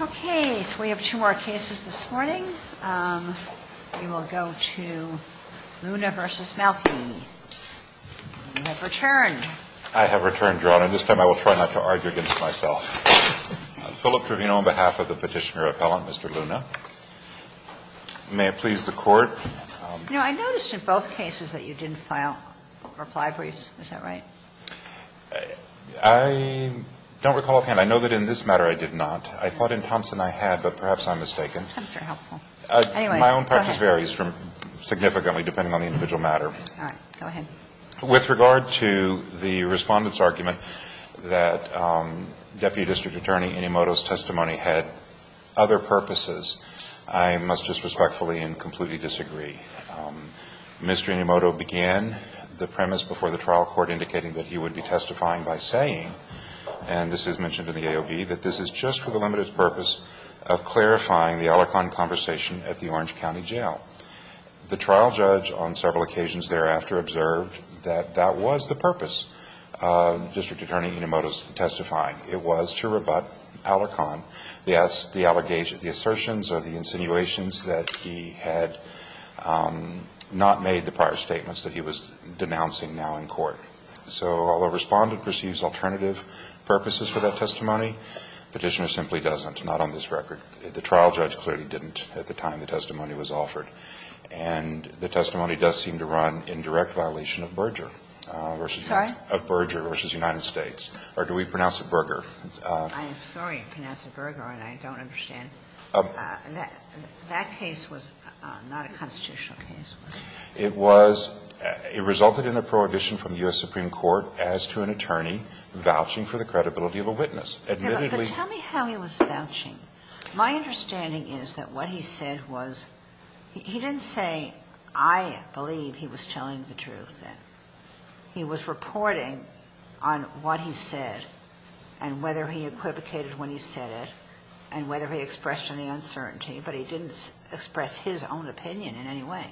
Okay, so we have two more cases this morning. We will go to Luna v. Malfi. You have returned. I have returned, Your Honor. This time I will try not to argue against myself. Philip Trevino on behalf of the petitioner appellant, Mr. Luna. May it please the Court. You know, I noticed in both cases that you didn't file reply briefs. Is that right? I don't recall offhand. I know that in this matter I did not. I thought in Thompson I had, but perhaps I'm mistaken. Thompson is helpful. Anyway, go ahead. My own practice varies significantly depending on the individual matter. All right. Go ahead. With regard to the Respondent's argument that Deputy District Attorney Inomoto's testimony had other purposes, I must just respectfully and completely disagree. Mr. Inomoto began the premise before the trial court indicating that he would be testifying by saying, and this is mentioned in the AOV, that this is just for the limited purpose of clarifying the Alarcon conversation at the Orange County Jail. The trial judge on several occasions thereafter observed that that was the purpose of District Attorney Inomoto's testifying. It was to rebut Alarcon, the assertions or the insinuations that he had not made the prior statements that he was denouncing now in court. So although Respondent perceives alternative purposes for that testimony, Petitioner simply doesn't, not on this record. The trial judge clearly didn't at the time the testimony was offered. And the testimony does seem to run in direct violation of Berger versus United States. Or do we pronounce it Berger? I'm sorry. You pronounce it Berger, and I don't understand. That case was not a constitutional case. It was. It resulted in a prohibition from the U.S. Supreme Court as to an attorney vouching for the credibility of a witness. But tell me how he was vouching. My understanding is that what he said was he didn't say, I believe he was telling the truth, that he was reporting on what he said and whether he equivocated when he said it and whether he expressed any uncertainty. But he didn't express his own opinion in any way.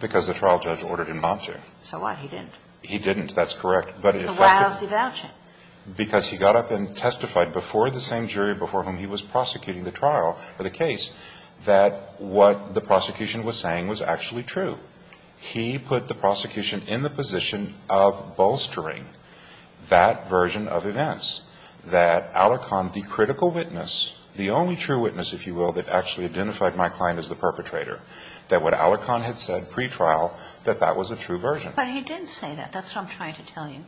Because the trial judge ordered him not to. So what? He didn't. He didn't. That's correct. So why was he vouching? Because he got up and testified before the same jury before whom he was prosecuting the trial for the case that what the prosecution was saying was actually true. He put the prosecution in the position of bolstering that version of events, that Alarcon, the critical witness, the only true witness, if you will, that actually identified my client as the perpetrator, that what Alarcon had said pretrial, that that was a true version. But he did say that. That's what I'm trying to tell you.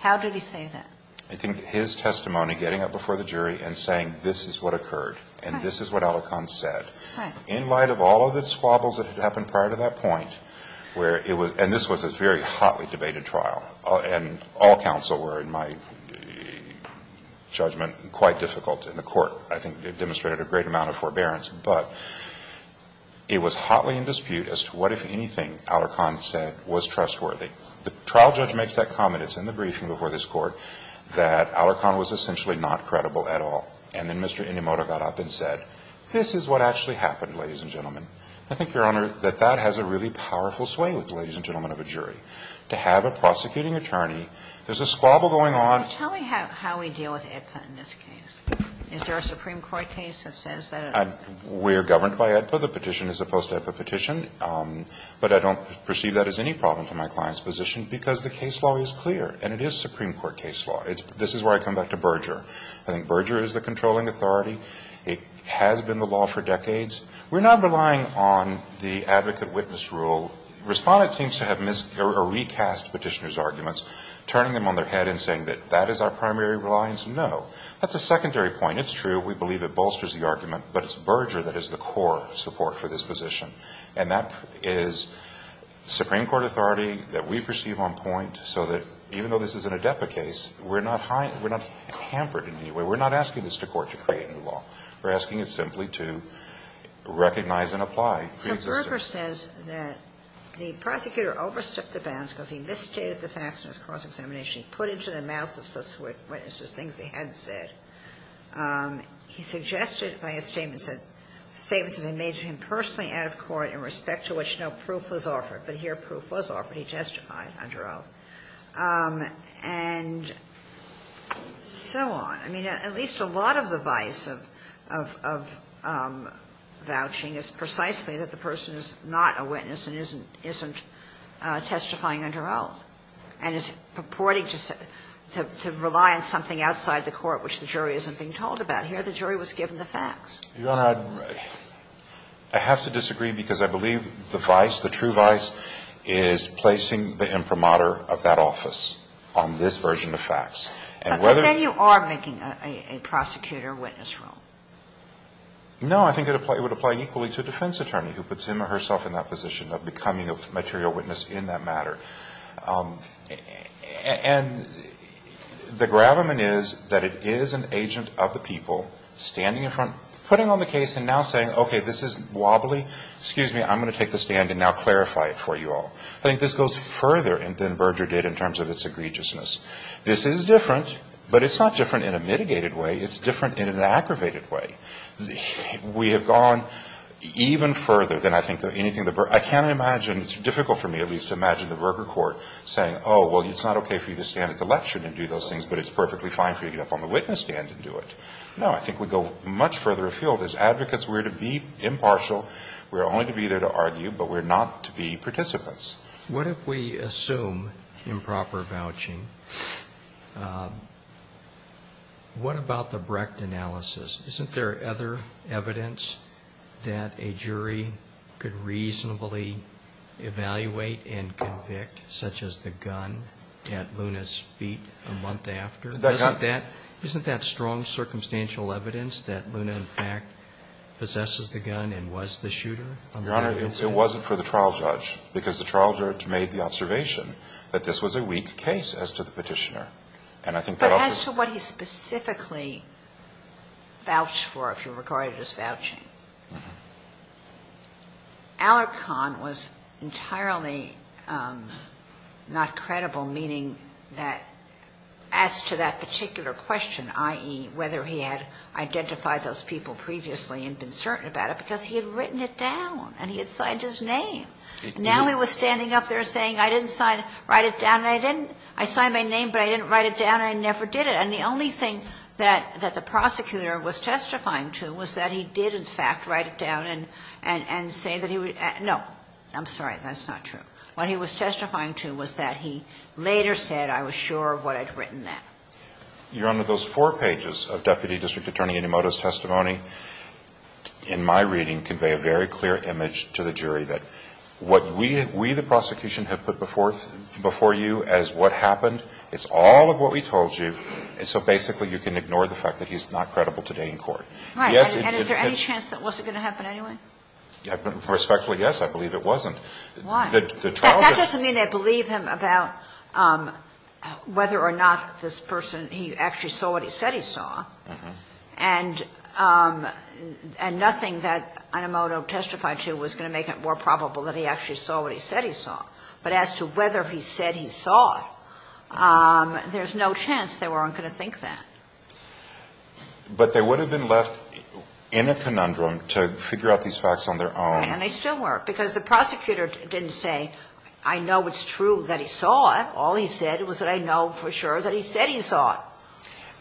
How did he say that? I think his testimony, getting up before the jury and saying this is what occurred and this is what Alarcon said, in light of all of the squabbles that had happened prior to that point where it was, and this was a very hotly debated trial, and all counsel were, in my judgment, quite difficult in the court. I think it demonstrated a great amount of forbearance. But it was hotly in dispute as to what, if anything, Alarcon said was trustworthy. The trial judge makes that comment. It's in the briefing before this Court that Alarcon was essentially not credible at all. And then Mr. Inomoto got up and said, this is what actually happened, ladies and gentlemen. I think, Your Honor, that that has a really powerful sway with the ladies and gentlemen of a jury. To have a prosecuting attorney, there's a squabble going on. Tell me how we deal with AEDPA in this case. Is there a Supreme Court case that says that? We're governed by AEDPA. The petition is a post-AEDPA petition. But I don't perceive that as any problem to my client's position because the case law is clear. And it is Supreme Court case law. This is where I come back to Berger. I think Berger is the controlling authority. It has been the law for decades. We're not relying on the advocate-witness rule. Respondents seem to have missed or recast Petitioner's arguments, turning them on their head and saying that that is our primary reliance. No. That's a secondary point. It's true. We believe it bolsters the argument. But it's Berger that is the core support for this position. And that is Supreme Court authority that we perceive on point so that even though this is an AEDPA case, we're not hampered in any way. We're not asking this to court to create a new law. We're asking it simply to recognize and apply preexistence. So Berger says that the prosecutor overstepped the bounds because he misstated the facts in his cross-examination. He put into the mouths of subsequent witnesses things they hadn't said. He suggested by his statements that statements had been made to him personally out of court in respect to which no proof was offered. But here proof was offered. He testified under oath. And so on. I mean, at least a lot of the vice of vouching is precisely that the person is not a witness and isn't testifying under oath and is purporting to rely on something outside the court which the jury isn't being told about. Here the jury was given the facts. You Honor, I have to disagree because I believe the vice, the true vice, is placing the imprimatur of that office on this version of facts. But then you are making a prosecutor witness wrong. No. I think it would apply equally to a defense attorney who puts him or herself in that position of becoming a material witness in that matter. And the gravamen is that it is an agent of the people standing in front, putting on the case and now saying, okay, this is wobbly. Excuse me. I'm going to take the stand and now clarify it for you all. I think this goes further than Berger did in terms of its egregiousness. This is different, but it's not different in a mitigated way. It's different in an aggravated way. We have gone even further than I think anything that Berger. I can't imagine, it's difficult for me at least to imagine the Berger court saying, oh, well, it's not okay for you to stand at the lecture and do those things, but it's perfectly fine for you to get up on the witness stand and do it. No, I think we go much further afield. As advocates, we're to be impartial. We're only to be there to argue, but we're not to be participants. What if we assume improper vouching? What about the Brecht analysis? Isn't there other evidence that a jury could reasonably evaluate and convict, such as the gun at Luna's feet a month after? Isn't that strong circumstantial evidence that Luna, in fact, possesses the gun and was the shooter? Your Honor, it wasn't for the trial judge, because the trial judge made the observation that this was a weak case as to the Petitioner. But as to what he specifically vouched for, if you regard it as vouching, Alarcon was entirely not credible, meaning that as to that particular question, i.e., whether he had identified those people previously and been certain about it, because he had written it down and he had signed his name. Now he was standing up there saying, I didn't sign it, write it down, and I didn't sign my name, but I didn't write it down, and I never did it. And the only thing that the prosecutor was testifying to was that he did, in fact, write it down and say that he was at no, I'm sorry, that's not true. What he was testifying to was that he later said, I was sure what I'd written that. Your Honor, those four pages of Deputy District Attorney Inomoto's testimony in my reading convey a very clear image to the jury that what we, we the prosecution have put before you as what happened, it's all of what we told you, and so basically you can ignore the fact that he's not credible today in court. Yes, it did. And is there any chance that wasn't going to happen anyway? Respectfully, yes, I believe it wasn't. Why? That doesn't mean they believe him about whether or not this person, he actually saw what he said he saw. And nothing that Inomoto testified to was going to make it more probable that he actually saw what he said he saw. But as to whether he said he saw it, there's no chance they weren't going to think that. But they would have been left in a conundrum to figure out these facts on their own. And they still weren't, because the prosecutor didn't say, I know it's true that he saw it. All he said was that I know for sure that he said he saw it.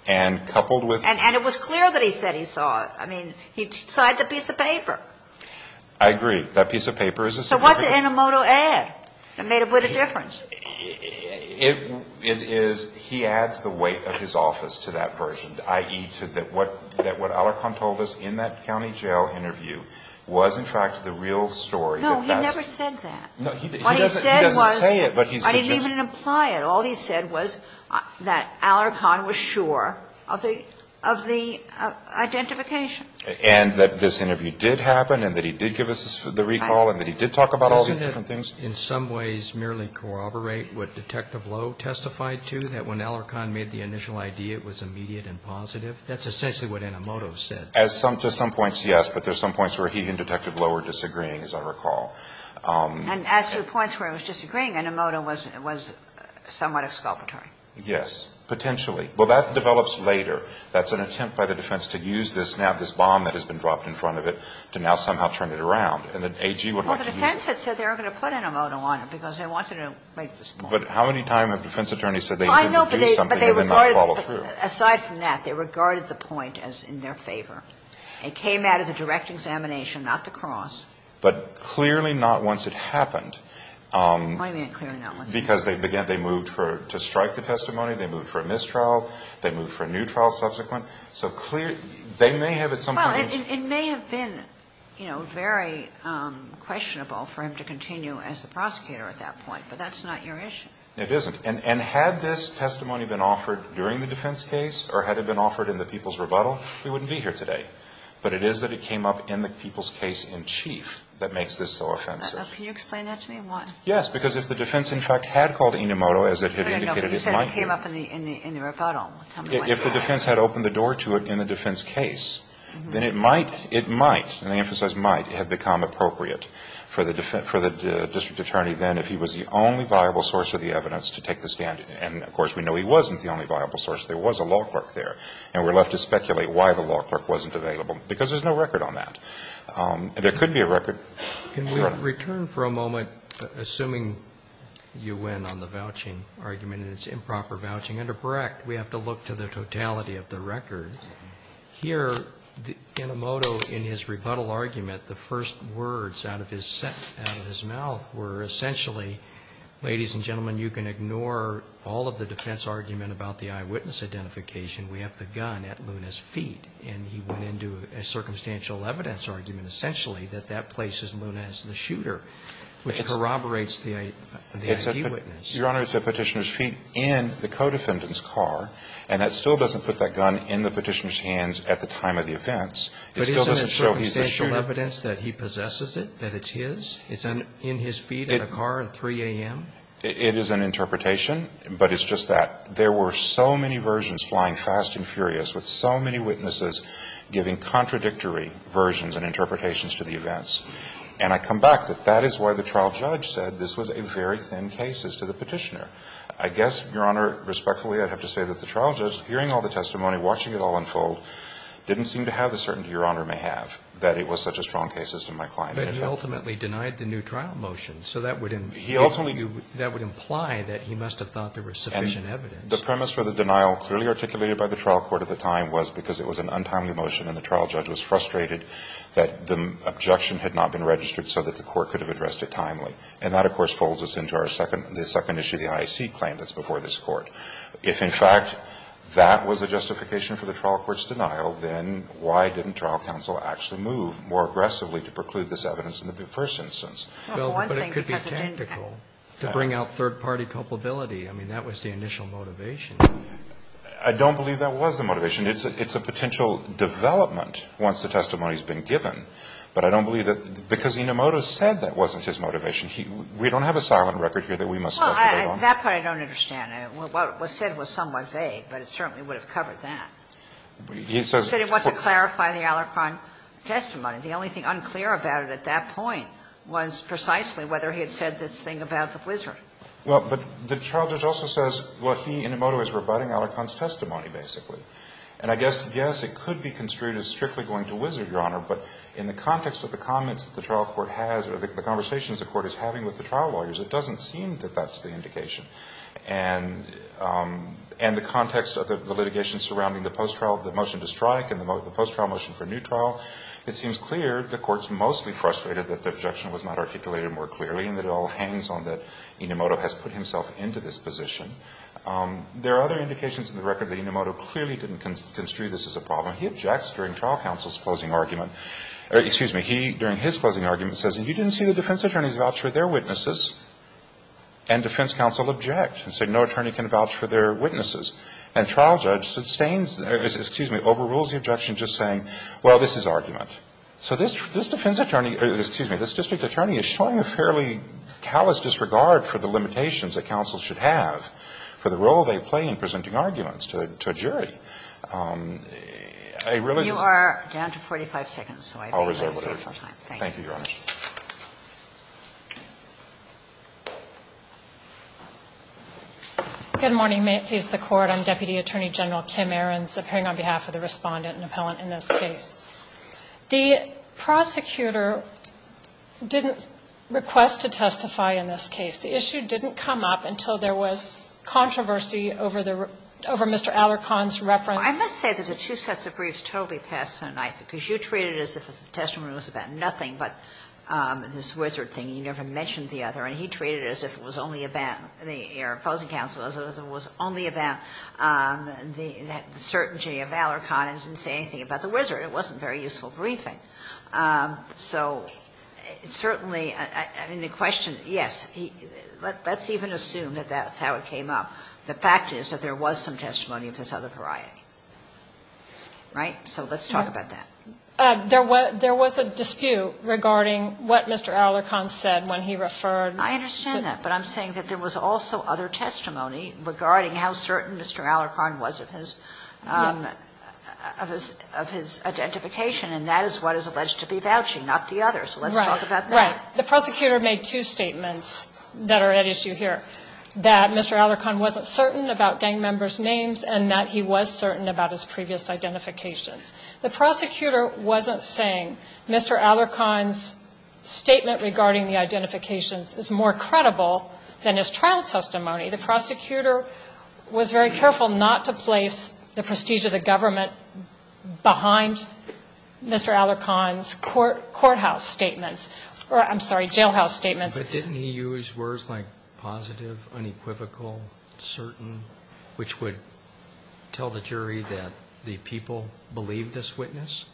And coupled with that. And it was clear that he said he saw it. I mean, he saw the piece of paper. I agree. That piece of paper is a significant piece of evidence. So what did Inomoto add that made a bit of difference? It is, he adds the weight of his office to that version, i.e., that what Alarcon told us in that county jail interview was, in fact, the real story that that's. No, he never said that. What he said was. He doesn't say it, but he said just. I didn't even imply it. All he said was that Alarcon was sure of the identification. And that this interview did happen. And that he did give us the recall. And that he did talk about all these different things. Doesn't it in some ways merely corroborate what Detective Lowe testified to? That when Alarcon made the initial idea, it was immediate and positive? That's essentially what Inomoto said. To some points, yes. But there's some points where he and Detective Lowe were disagreeing, as I recall. And as to the points where it was disagreeing, Inomoto was somewhat exculpatory. Yes. Potentially. Well, that develops later. That's an attempt by the defense to use this now. To have this bomb that has been dropped in front of it to now somehow turn it around. And then AG would like to use it. Well, the defense had said they were going to put Inomoto on it because they wanted to make this point. But how many times have defense attorneys said they didn't do something? Well, I know, but they regarded. They did not follow through. Aside from that, they regarded the point as in their favor. It came out of the direct examination, not the cross. But clearly not once it happened. What do you mean, clearly not once it happened? Because they moved to strike the testimony. They moved for a mistrial. They moved for a new trial subsequent. So clearly, they may have at some point used. Well, it may have been, you know, very questionable for him to continue as the prosecutor at that point. But that's not your issue. It isn't. And had this testimony been offered during the defense case or had it been offered in the people's rebuttal, we wouldn't be here today. But it is that it came up in the people's case in chief that makes this so offensive. Can you explain that to me? Why? Yes, because if the defense in fact had called Inomoto, as it had indicated it might have. No, no, no. You said it came up in the rebuttal. If the defense had opened the door to it in the defense case, then it might, it might, and I emphasize might, have become appropriate for the district attorney then if he was the only viable source of the evidence to take the stand. And, of course, we know he wasn't the only viable source. There was a law clerk there. And we're left to speculate why the law clerk wasn't available, because there's no record on that. There could be a record. Can we return for a moment, assuming you win on the vouching argument and it's improper to look to the totality of the record? Here, Inomoto in his rebuttal argument, the first words out of his mouth were essentially, ladies and gentlemen, you can ignore all of the defense argument about the eyewitness identification. We have the gun at Luna's feet. And he went into a circumstantial evidence argument, essentially, that that place is Luna's, the shooter, which corroborates the eyewitness. Your Honor, it's at Petitioner's feet in the co-defendant's car, and that still doesn't put that gun in the Petitioner's hands at the time of the events. It still doesn't show he's the shooter. But isn't it circumstantial evidence that he possesses it, that it's his? It's in his feet in the car at 3 a.m.? It is an interpretation, but it's just that. There were so many versions flying fast and furious with so many witnesses giving contradictory versions and interpretations to the events. And I come back that that is why the trial judge said this was a very thin case as to the Petitioner. I guess, Your Honor, respectfully, I'd have to say that the trial judge, hearing all the testimony, watching it all unfold, didn't seem to have the certainty Your Honor may have, that it was such a strong case as to my client. But he ultimately denied the new trial motion. So that would imply that he must have thought there was sufficient evidence. And the premise for the denial clearly articulated by the trial court at the time was because it was an untimely motion and the trial judge was frustrated that the objection had not been registered so that the court could have addressed it timely. And that, of course, folds us into our second issue, the IAC claim that's before this Court. If, in fact, that was the justification for the trial court's denial, then why didn't trial counsel actually move more aggressively to preclude this evidence in the first instance? Well, but it could be technical to bring out third-party culpability. I mean, that was the initial motivation. I don't believe that was the motivation. It's a potential development once the testimony has been given. But I don't believe that because Inomoto said that wasn't his motivation. We don't have a silent record here that we must speculate on. Well, that part I don't understand. What was said was somewhat vague, but it certainly would have covered that. He says He said he wanted to clarify the Alarcon testimony. The only thing unclear about it at that point was precisely whether he had said this thing about the wizard. Well, but the trial judge also says, well, he, Inomoto, is rebutting Alarcon's testimony, basically. And I guess, yes, it could be construed as strictly going to wizard, Your Honor, but in the context of the comments that the trial court has or the conversations the court is having with the trial lawyers, it doesn't seem that that's the indication. And the context of the litigation surrounding the post-trial, the motion to strike and the post-trial motion for new trial, it seems clear the Court's mostly frustrated that the objection was not articulated more clearly and that it all hangs on that Inomoto has put himself into this position. There are other indications in the record that Inomoto clearly didn't construe this as a problem. He objects during trial counsel's closing argument. Excuse me. He, during his closing argument, says, and you didn't see the defense attorneys vouch for their witnesses. And defense counsel object and said no attorney can vouch for their witnesses. And trial judge sustains, excuse me, overrules the objection just saying, well, this is argument. So this defense attorney, excuse me, this district attorney is showing a fairly callous disregard for the limitations that counsel should have for the role they play in presenting arguments to a jury. I realize this. You are down to 45 seconds. I'll reserve whatever time. Thank you. Thank you, Your Honor. Good morning. May it please the Court. I'm Deputy Attorney General Kim Ahrens, appearing on behalf of the Respondent and Appellant in this case. The prosecutor didn't request to testify in this case. The issue didn't come up until there was controversy over the Mr. Allercon's reference. Well, I must say that the two sets of briefs totally passed tonight because you treated it as if the testimony was about nothing but this wizard thing. You never mentioned the other. And he treated it as if it was only about the opposing counsel, as if it was only about Mr. Allercon. It wasn't very useful briefing. So certainly, I mean, the question, yes. Let's even assume that that's how it came up. The fact is that there was some testimony of this other variety. Right? So let's talk about that. There was a dispute regarding what Mr. Allercon said when he referred. I understand that. But I'm saying that there was also other testimony regarding how certain Mr. Allercon was of his identification, and that is what is alleged to be vouching, not the other. So let's talk about that. Right. The prosecutor made two statements that are at issue here, that Mr. Allercon wasn't certain about gang members' names and that he was certain about his previous identifications. The prosecutor wasn't saying Mr. Allercon's statement regarding the identifications is more credible than his trial testimony. The prosecutor was very careful not to place the prestige of the government behind Mr. Allercon's courthouse statements, or I'm sorry, jailhouse statements. But didn't he use words like positive, unequivocal, certain, which would tell the jury that the people believed this witness,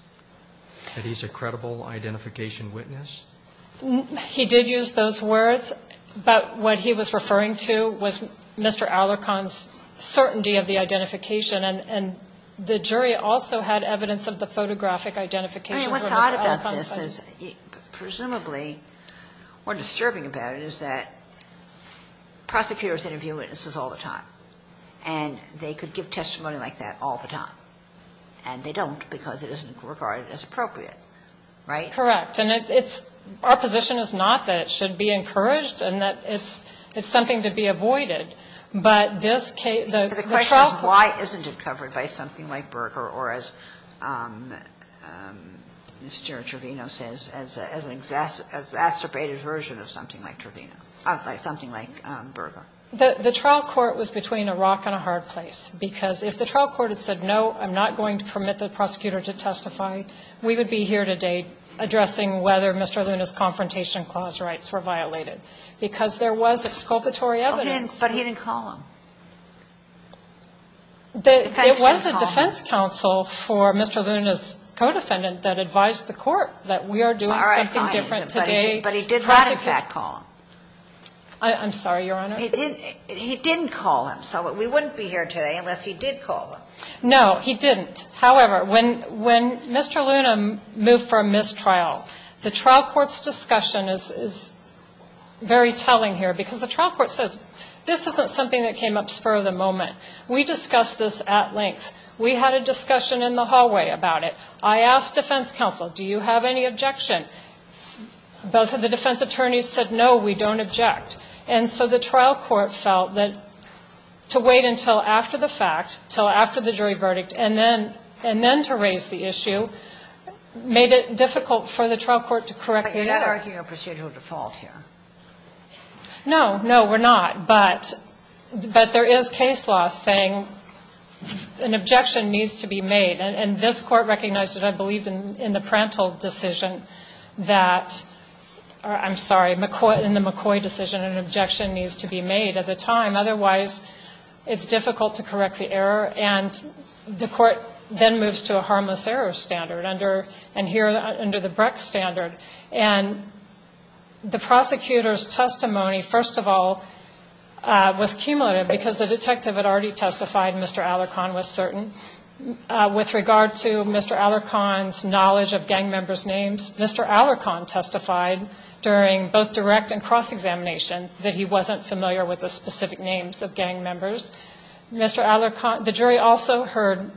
that he's a credible identification witness? He did use those words, but what he was referring to was Mr. Allercon's certainty of the identification. And the jury also had evidence of the photographic identification for Mr. Allercon. I mean, what's odd about this is presumably what's disturbing about it is that prosecutors interview witnesses all the time, and they could give testimony like that all the time. And they don't because it isn't regarded as appropriate. Right? Correct. And it's – our position is not that it should be encouraged and that it's something to be avoided. But this case, the trial court – But the question is why isn't it covered by something like Berger or, as Mr. Trevino says, as an exacerbated version of something like Trevino, of something like Berger? The trial court was between a rock and a hard place. Because if the trial court had said, no, I'm not going to permit the prosecutor to testify, we would be here today addressing whether Mr. Luna's confrontation clause rights were violated, because there was exculpatory evidence. Okay. But he didn't call him. In fact, he didn't call him. It was a defense counsel for Mr. Luna's co-defendant that advised the court that we are doing something different today. All right. Fine. But he didn't in fact call him. I'm sorry, Your Honor. He didn't call him. So we wouldn't be here today unless he did call him. No, he didn't. However, when Mr. Luna moved for a mistrial, the trial court's discussion is very telling here, because the trial court says this isn't something that came up spur of the moment. We discussed this at length. We had a discussion in the hallway about it. I asked defense counsel, do you have any objection? Both of the defense attorneys said, no, we don't object. And so the trial court felt that to wait until after the fact, until after the fact, and then to raise the issue, made it difficult for the trial court to correct the error. But you're not arguing a procedural default here. No. No, we're not. But there is case law saying an objection needs to be made. And this Court recognized it, I believe, in the Prandtl decision that or, I'm sorry, in the McCoy decision, an objection needs to be made at the time. Otherwise, it's difficult to correct the error. And the Court then moves to a harmless error standard, and here under the Breck standard. And the prosecutor's testimony, first of all, was cumulative, because the detective had already testified, Mr. Alarcon was certain. With regard to Mr. Alarcon's knowledge of gang members' names, Mr. Alarcon testified during both direct and cross-examination that he wasn't familiar with the specific names of gang members. Mr. Alarcon, the jury also heard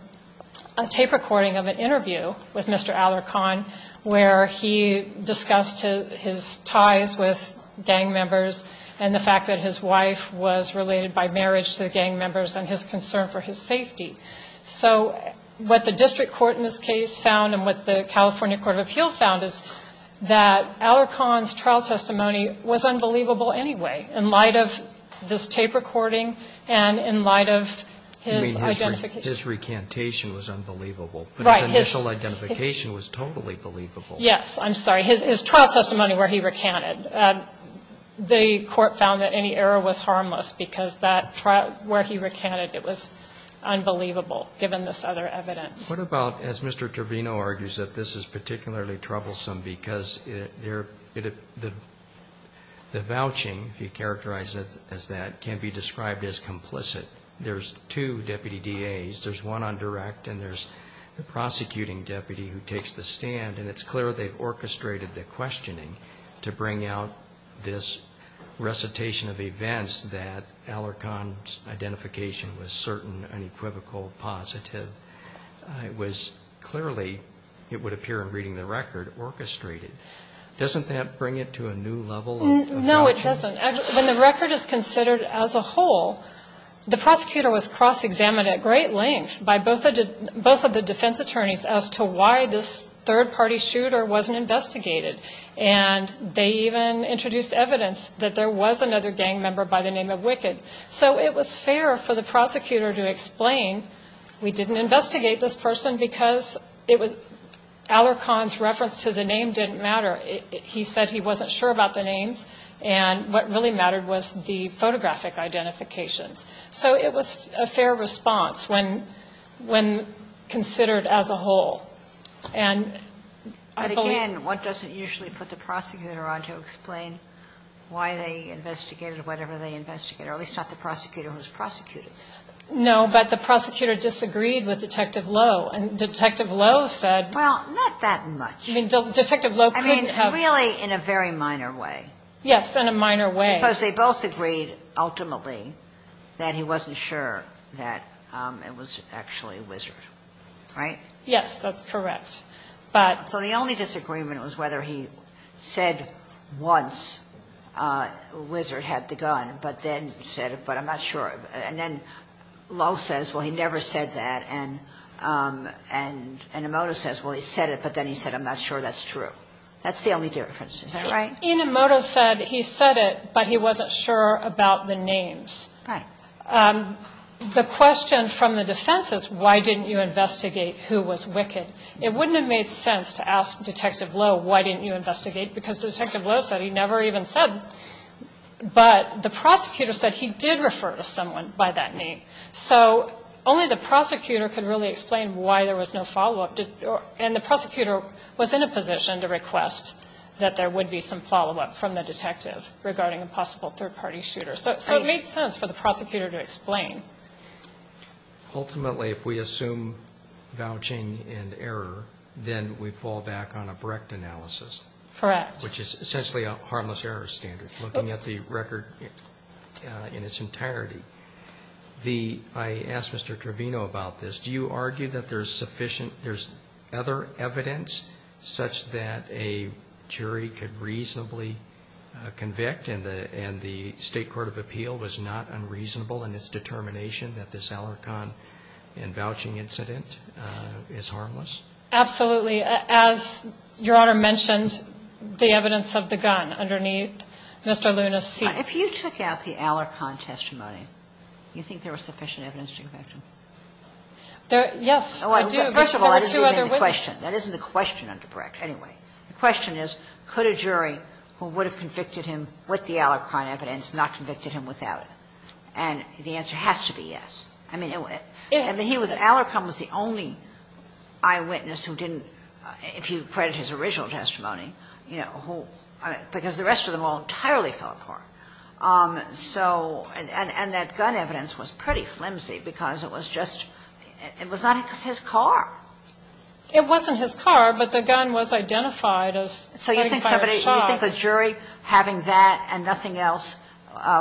a tape recording of an interview with Mr. Alarcon where he discussed his ties with gang members and the fact that his wife was related by marriage to the gang members and his concern for his safety. So what the district court in this case found and what the California Court of Appeal found is that Alarcon's trial testimony was unbelievable anyway in light of this identification. Roberts. You mean his recantation was unbelievable. Right. But his initial identification was totally believable. Yes. I'm sorry. His trial testimony where he recanted. The court found that any error was harmless because that trial where he recanted, it was unbelievable, given this other evidence. What about, as Mr. Torvino argues, that this is particularly troublesome because the vouching, if you characterize it as that, can be described as complicit. There's two deputy DAs. There's one on direct and there's the prosecuting deputy who takes the stand. And it's clear they've orchestrated the questioning to bring out this recitation of events that Alarcon's identification was certain, unequivocal, positive. It was clearly, it would appear in reading the record, orchestrated. Doesn't that bring it to a new level of vouching? No, it doesn't. When the record is considered as a whole, the prosecutor was cross-examined at great length by both of the defense attorneys as to why this third-party shooter wasn't investigated. And they even introduced evidence that there was another gang member by the name of Wicked. So it was fair for the prosecutor to explain we didn't investigate this person because it was Alarcon's reference to the name didn't matter. He said he wasn't sure about the names and what really mattered was the photographic identifications. So it was a fair response when considered as a whole. But again, one doesn't usually put the prosecutor on to explain why they investigated whatever they investigated, or at least not the prosecutor who was prosecuted. No, but the prosecutor disagreed with Detective Lowe. And Detective Lowe said... Well, not that much. I mean, Detective Lowe couldn't have... I mean, really in a very minor way. Yes, in a minor way. Because they both agreed ultimately that he wasn't sure that it was actually Wizard, right? Yes, that's correct, but... So the only disagreement was whether he said once Wizard had the gun, but then said, but I'm not sure. And then Lowe says, well, he never said that. And Emoto says, well, he said it, but then he said, I'm not sure that's true. That's the only difference. Is that right? Emoto said he said it, but he wasn't sure about the names. Right. The question from the defense is, why didn't you investigate who was Wicked? It wouldn't have made sense to ask Detective Lowe, why didn't you investigate? Because Detective Lowe said he never even said. But the prosecutor said he did refer to someone by that name. So only the prosecutor could really explain why there was no follow-up. And the prosecutor was in a position to request that there would be some follow-up from the detective regarding a possible third-party shooter. So it made sense for the prosecutor to explain. Ultimately, if we assume vouching and error, then we fall back on a Brecht analysis. Correct. Which is essentially a harmless error standard, looking at the record in its entirety. I asked Mr. Trevino about this. Do you argue that there's other evidence such that a jury could reasonably convict and the State Court of Appeal was not unreasonable in its determination that this Alarcon and vouching incident is harmless? Absolutely. As Your Honor mentioned, the evidence of the gun underneath Mr. Luna's seat. If you took out the Alarcon testimony, you think there was sufficient evidence to correct him? Yes. There were two other witnesses. That isn't the question under Brecht. Anyway, the question is, could a jury who would have convicted him with the Alarcon evidence not convicted him without it? And the answer has to be yes. I mean, Alarcon was the only eyewitness who didn't, if you credit his original So and that gun evidence was pretty flimsy because it was just, it was not his car. It wasn't his car, but the gun was identified as. So you think the jury having that and nothing else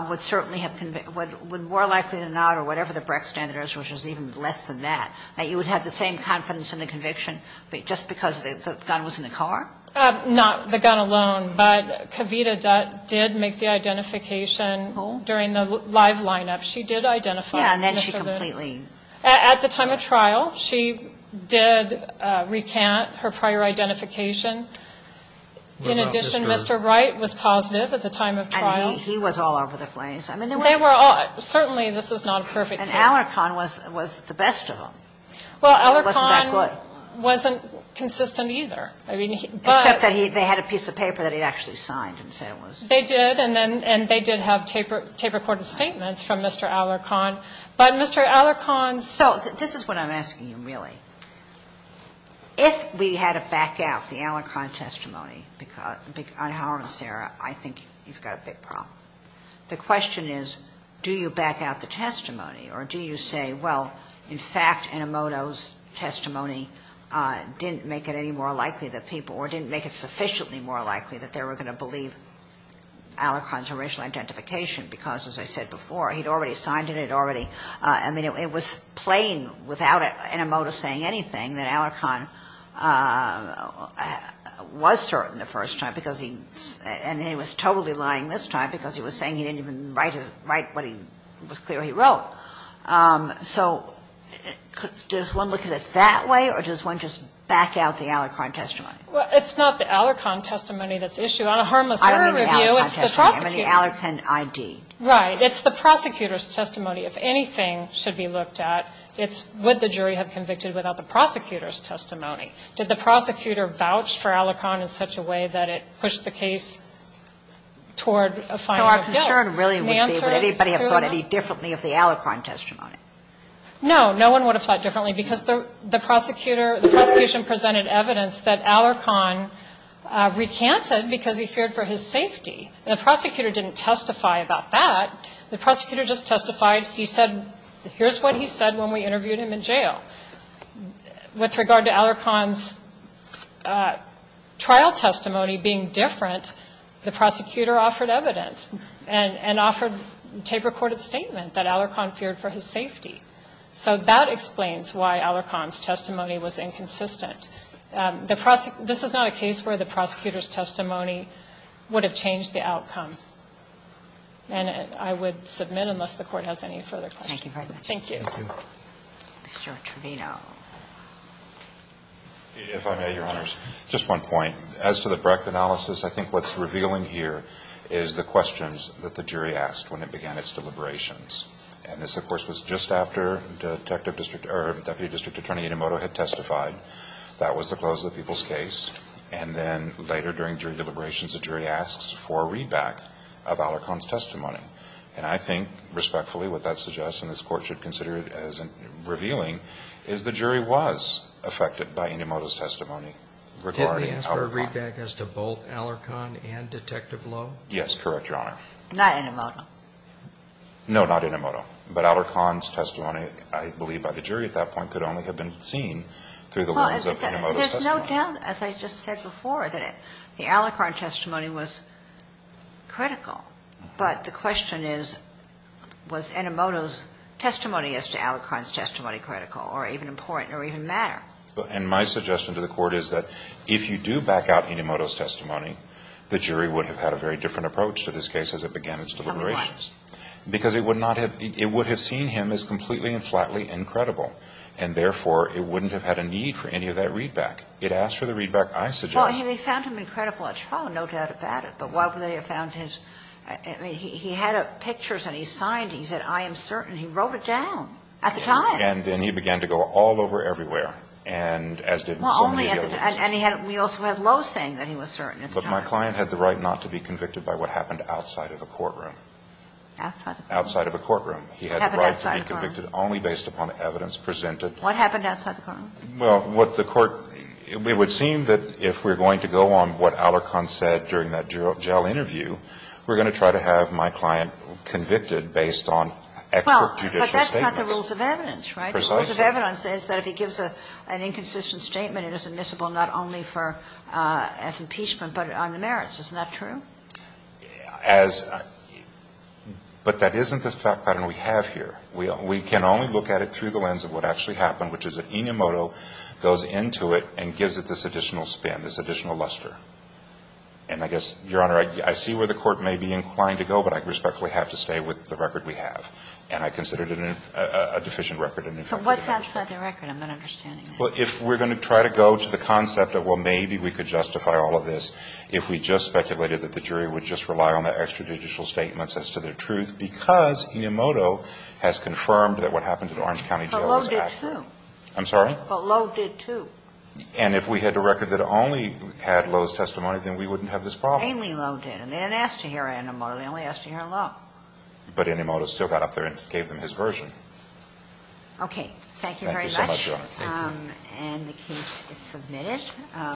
would certainly have, would more likely than not or whatever the Brecht standard is, which is even less than that, that you would have the same confidence in the conviction just because the gun was in the car? Not the gun alone. But Kavita did make the identification during the live lineup. She did identify. Yeah, and then she completely. At the time of trial, she did recant her prior identification. In addition, Mr. Wright was positive at the time of trial. And he was all over the place. I mean, they were all. Certainly this is not a perfect case. And Alarcon was the best of them. Well, Alarcon wasn't consistent either. I mean, but. Except that they had a piece of paper that he actually signed and said it was. They did. And they did have tape recorded statements from Mr. Alarcon. But Mr. Alarcon's. So this is what I'm asking you, really. If we had to back out the Alarcon testimony on Howard and Sarah, I think you've got a big problem. The question is do you back out the testimony or do you say, well, in fact, Enomoto's sufficiently more likely that they were going to believe Alarcon's original identification? Because, as I said before, he'd already signed it. He'd already. I mean, it was plain without Enomoto saying anything that Alarcon was certain the first time. And he was totally lying this time because he was saying he didn't even write what he was clear he wrote. So does one look at it that way? Or does one just back out the Alarcon testimony? Well, it's not the Alarcon testimony that's issued. On a harmless error review, it's the prosecutor. I don't mean the Alarcon testimony. I mean the Alarcon ID. Right. It's the prosecutor's testimony. If anything should be looked at, it's would the jury have convicted without the prosecutor's testimony. Did the prosecutor vouch for Alarcon in such a way that it pushed the case toward a final bill? So our concern really would be would anybody have thought any differently of the Alarcon testimony? No. No one would have thought differently because the prosecutor, the prosecution presented evidence that Alarcon recanted because he feared for his safety. And the prosecutor didn't testify about that. The prosecutor just testified. He said here's what he said when we interviewed him in jail. With regard to Alarcon's trial testimony being different, the prosecutor offered evidence and offered a tape-recorded statement that Alarcon feared for his safety. So that explains why Alarcon's testimony was inconsistent. This is not a case where the prosecutor's testimony would have changed the outcome. And I would submit unless the Court has any further questions. Thank you very much. Thank you. Mr. Trevino. If I may, Your Honors. Just one point. As to the Brecht analysis, I think what's revealing here is the questions that the jury asked when it began its deliberations. And this, of course, was just after Deputy District Attorney Inomoto had testified. That was the close of the people's case. And then later during jury deliberations, the jury asks for a readback of Alarcon's testimony. And I think, respectfully, what that suggests, and this Court should consider it as revealing, is the jury was affected by Inomoto's testimony regarding Alarcon. Did they ask for a readback as to both Alarcon and Detective Lowe? Yes. Correct, Your Honor. Not Inomoto. No, not Inomoto. But Alarcon's testimony, I believe by the jury at that point, could only have been seen through the lens of Inomoto's testimony. Well, there's no doubt, as I just said before, that the Alarcon testimony was critical. But the question is, was Inomoto's testimony as to Alarcon's testimony critical or even important or even matter? And my suggestion to the Court is that if you do back out Inomoto's testimony, the jury would have had a very different approach to this case as it began its deliberations. Why? Because it would not have been, it would have seen him as completely and flatly incredible. And therefore, it wouldn't have had a need for any of that readback. It asked for the readback I suggest. Well, and they found him incredible at trial, no doubt about it. But why would they have found his, I mean, he had pictures that he signed. He said, I am certain. He wrote it down at the time. And then he began to go all over everywhere, and as did so many other cases. Well, only at the time. And he had, we also had Lowe saying that he was certain at the time. My client had the right not to be convicted by what happened outside of the courtroom. Outside of the courtroom? Outside of the courtroom. He had the right to be convicted only based upon evidence presented. What happened outside the courtroom? Well, what the Court, it would seem that if we're going to go on what Alarcon said during that jail interview, we're going to try to have my client convicted based on expert judicial statements. Well, but that's not the rules of evidence, right? Precisely. The rules of evidence says that if he gives an inconsistent statement, it is admissible not only for, as impeachment, but on the merits. Isn't that true? As, but that isn't the pattern we have here. We can only look at it through the lens of what actually happened, which is that Enomoto goes into it and gives it this additional span, this additional luster. And I guess, Your Honor, I see where the Court may be inclined to go, but I respectfully have to stay with the record we have. And I consider it a deficient record. But what's outside the record? I'm not understanding that. Well, if we're going to try to go to the concept of, well, maybe we could justify all of this if we just speculated that the jury would just rely on the extrajudicial statements as to their truth, because Enomoto has confirmed that what happened at Orange County Jail was accurate. But Lowe did, too. I'm sorry? But Lowe did, too. And if we had a record that only had Lowe's testimony, then we wouldn't have this problem. Mainly Lowe did. And they didn't ask to hear Enomoto. They only asked to hear Lowe. But Enomoto still got up there and gave them his version. Okay. Thank you very much. Sure, thank you. And the case is submitted.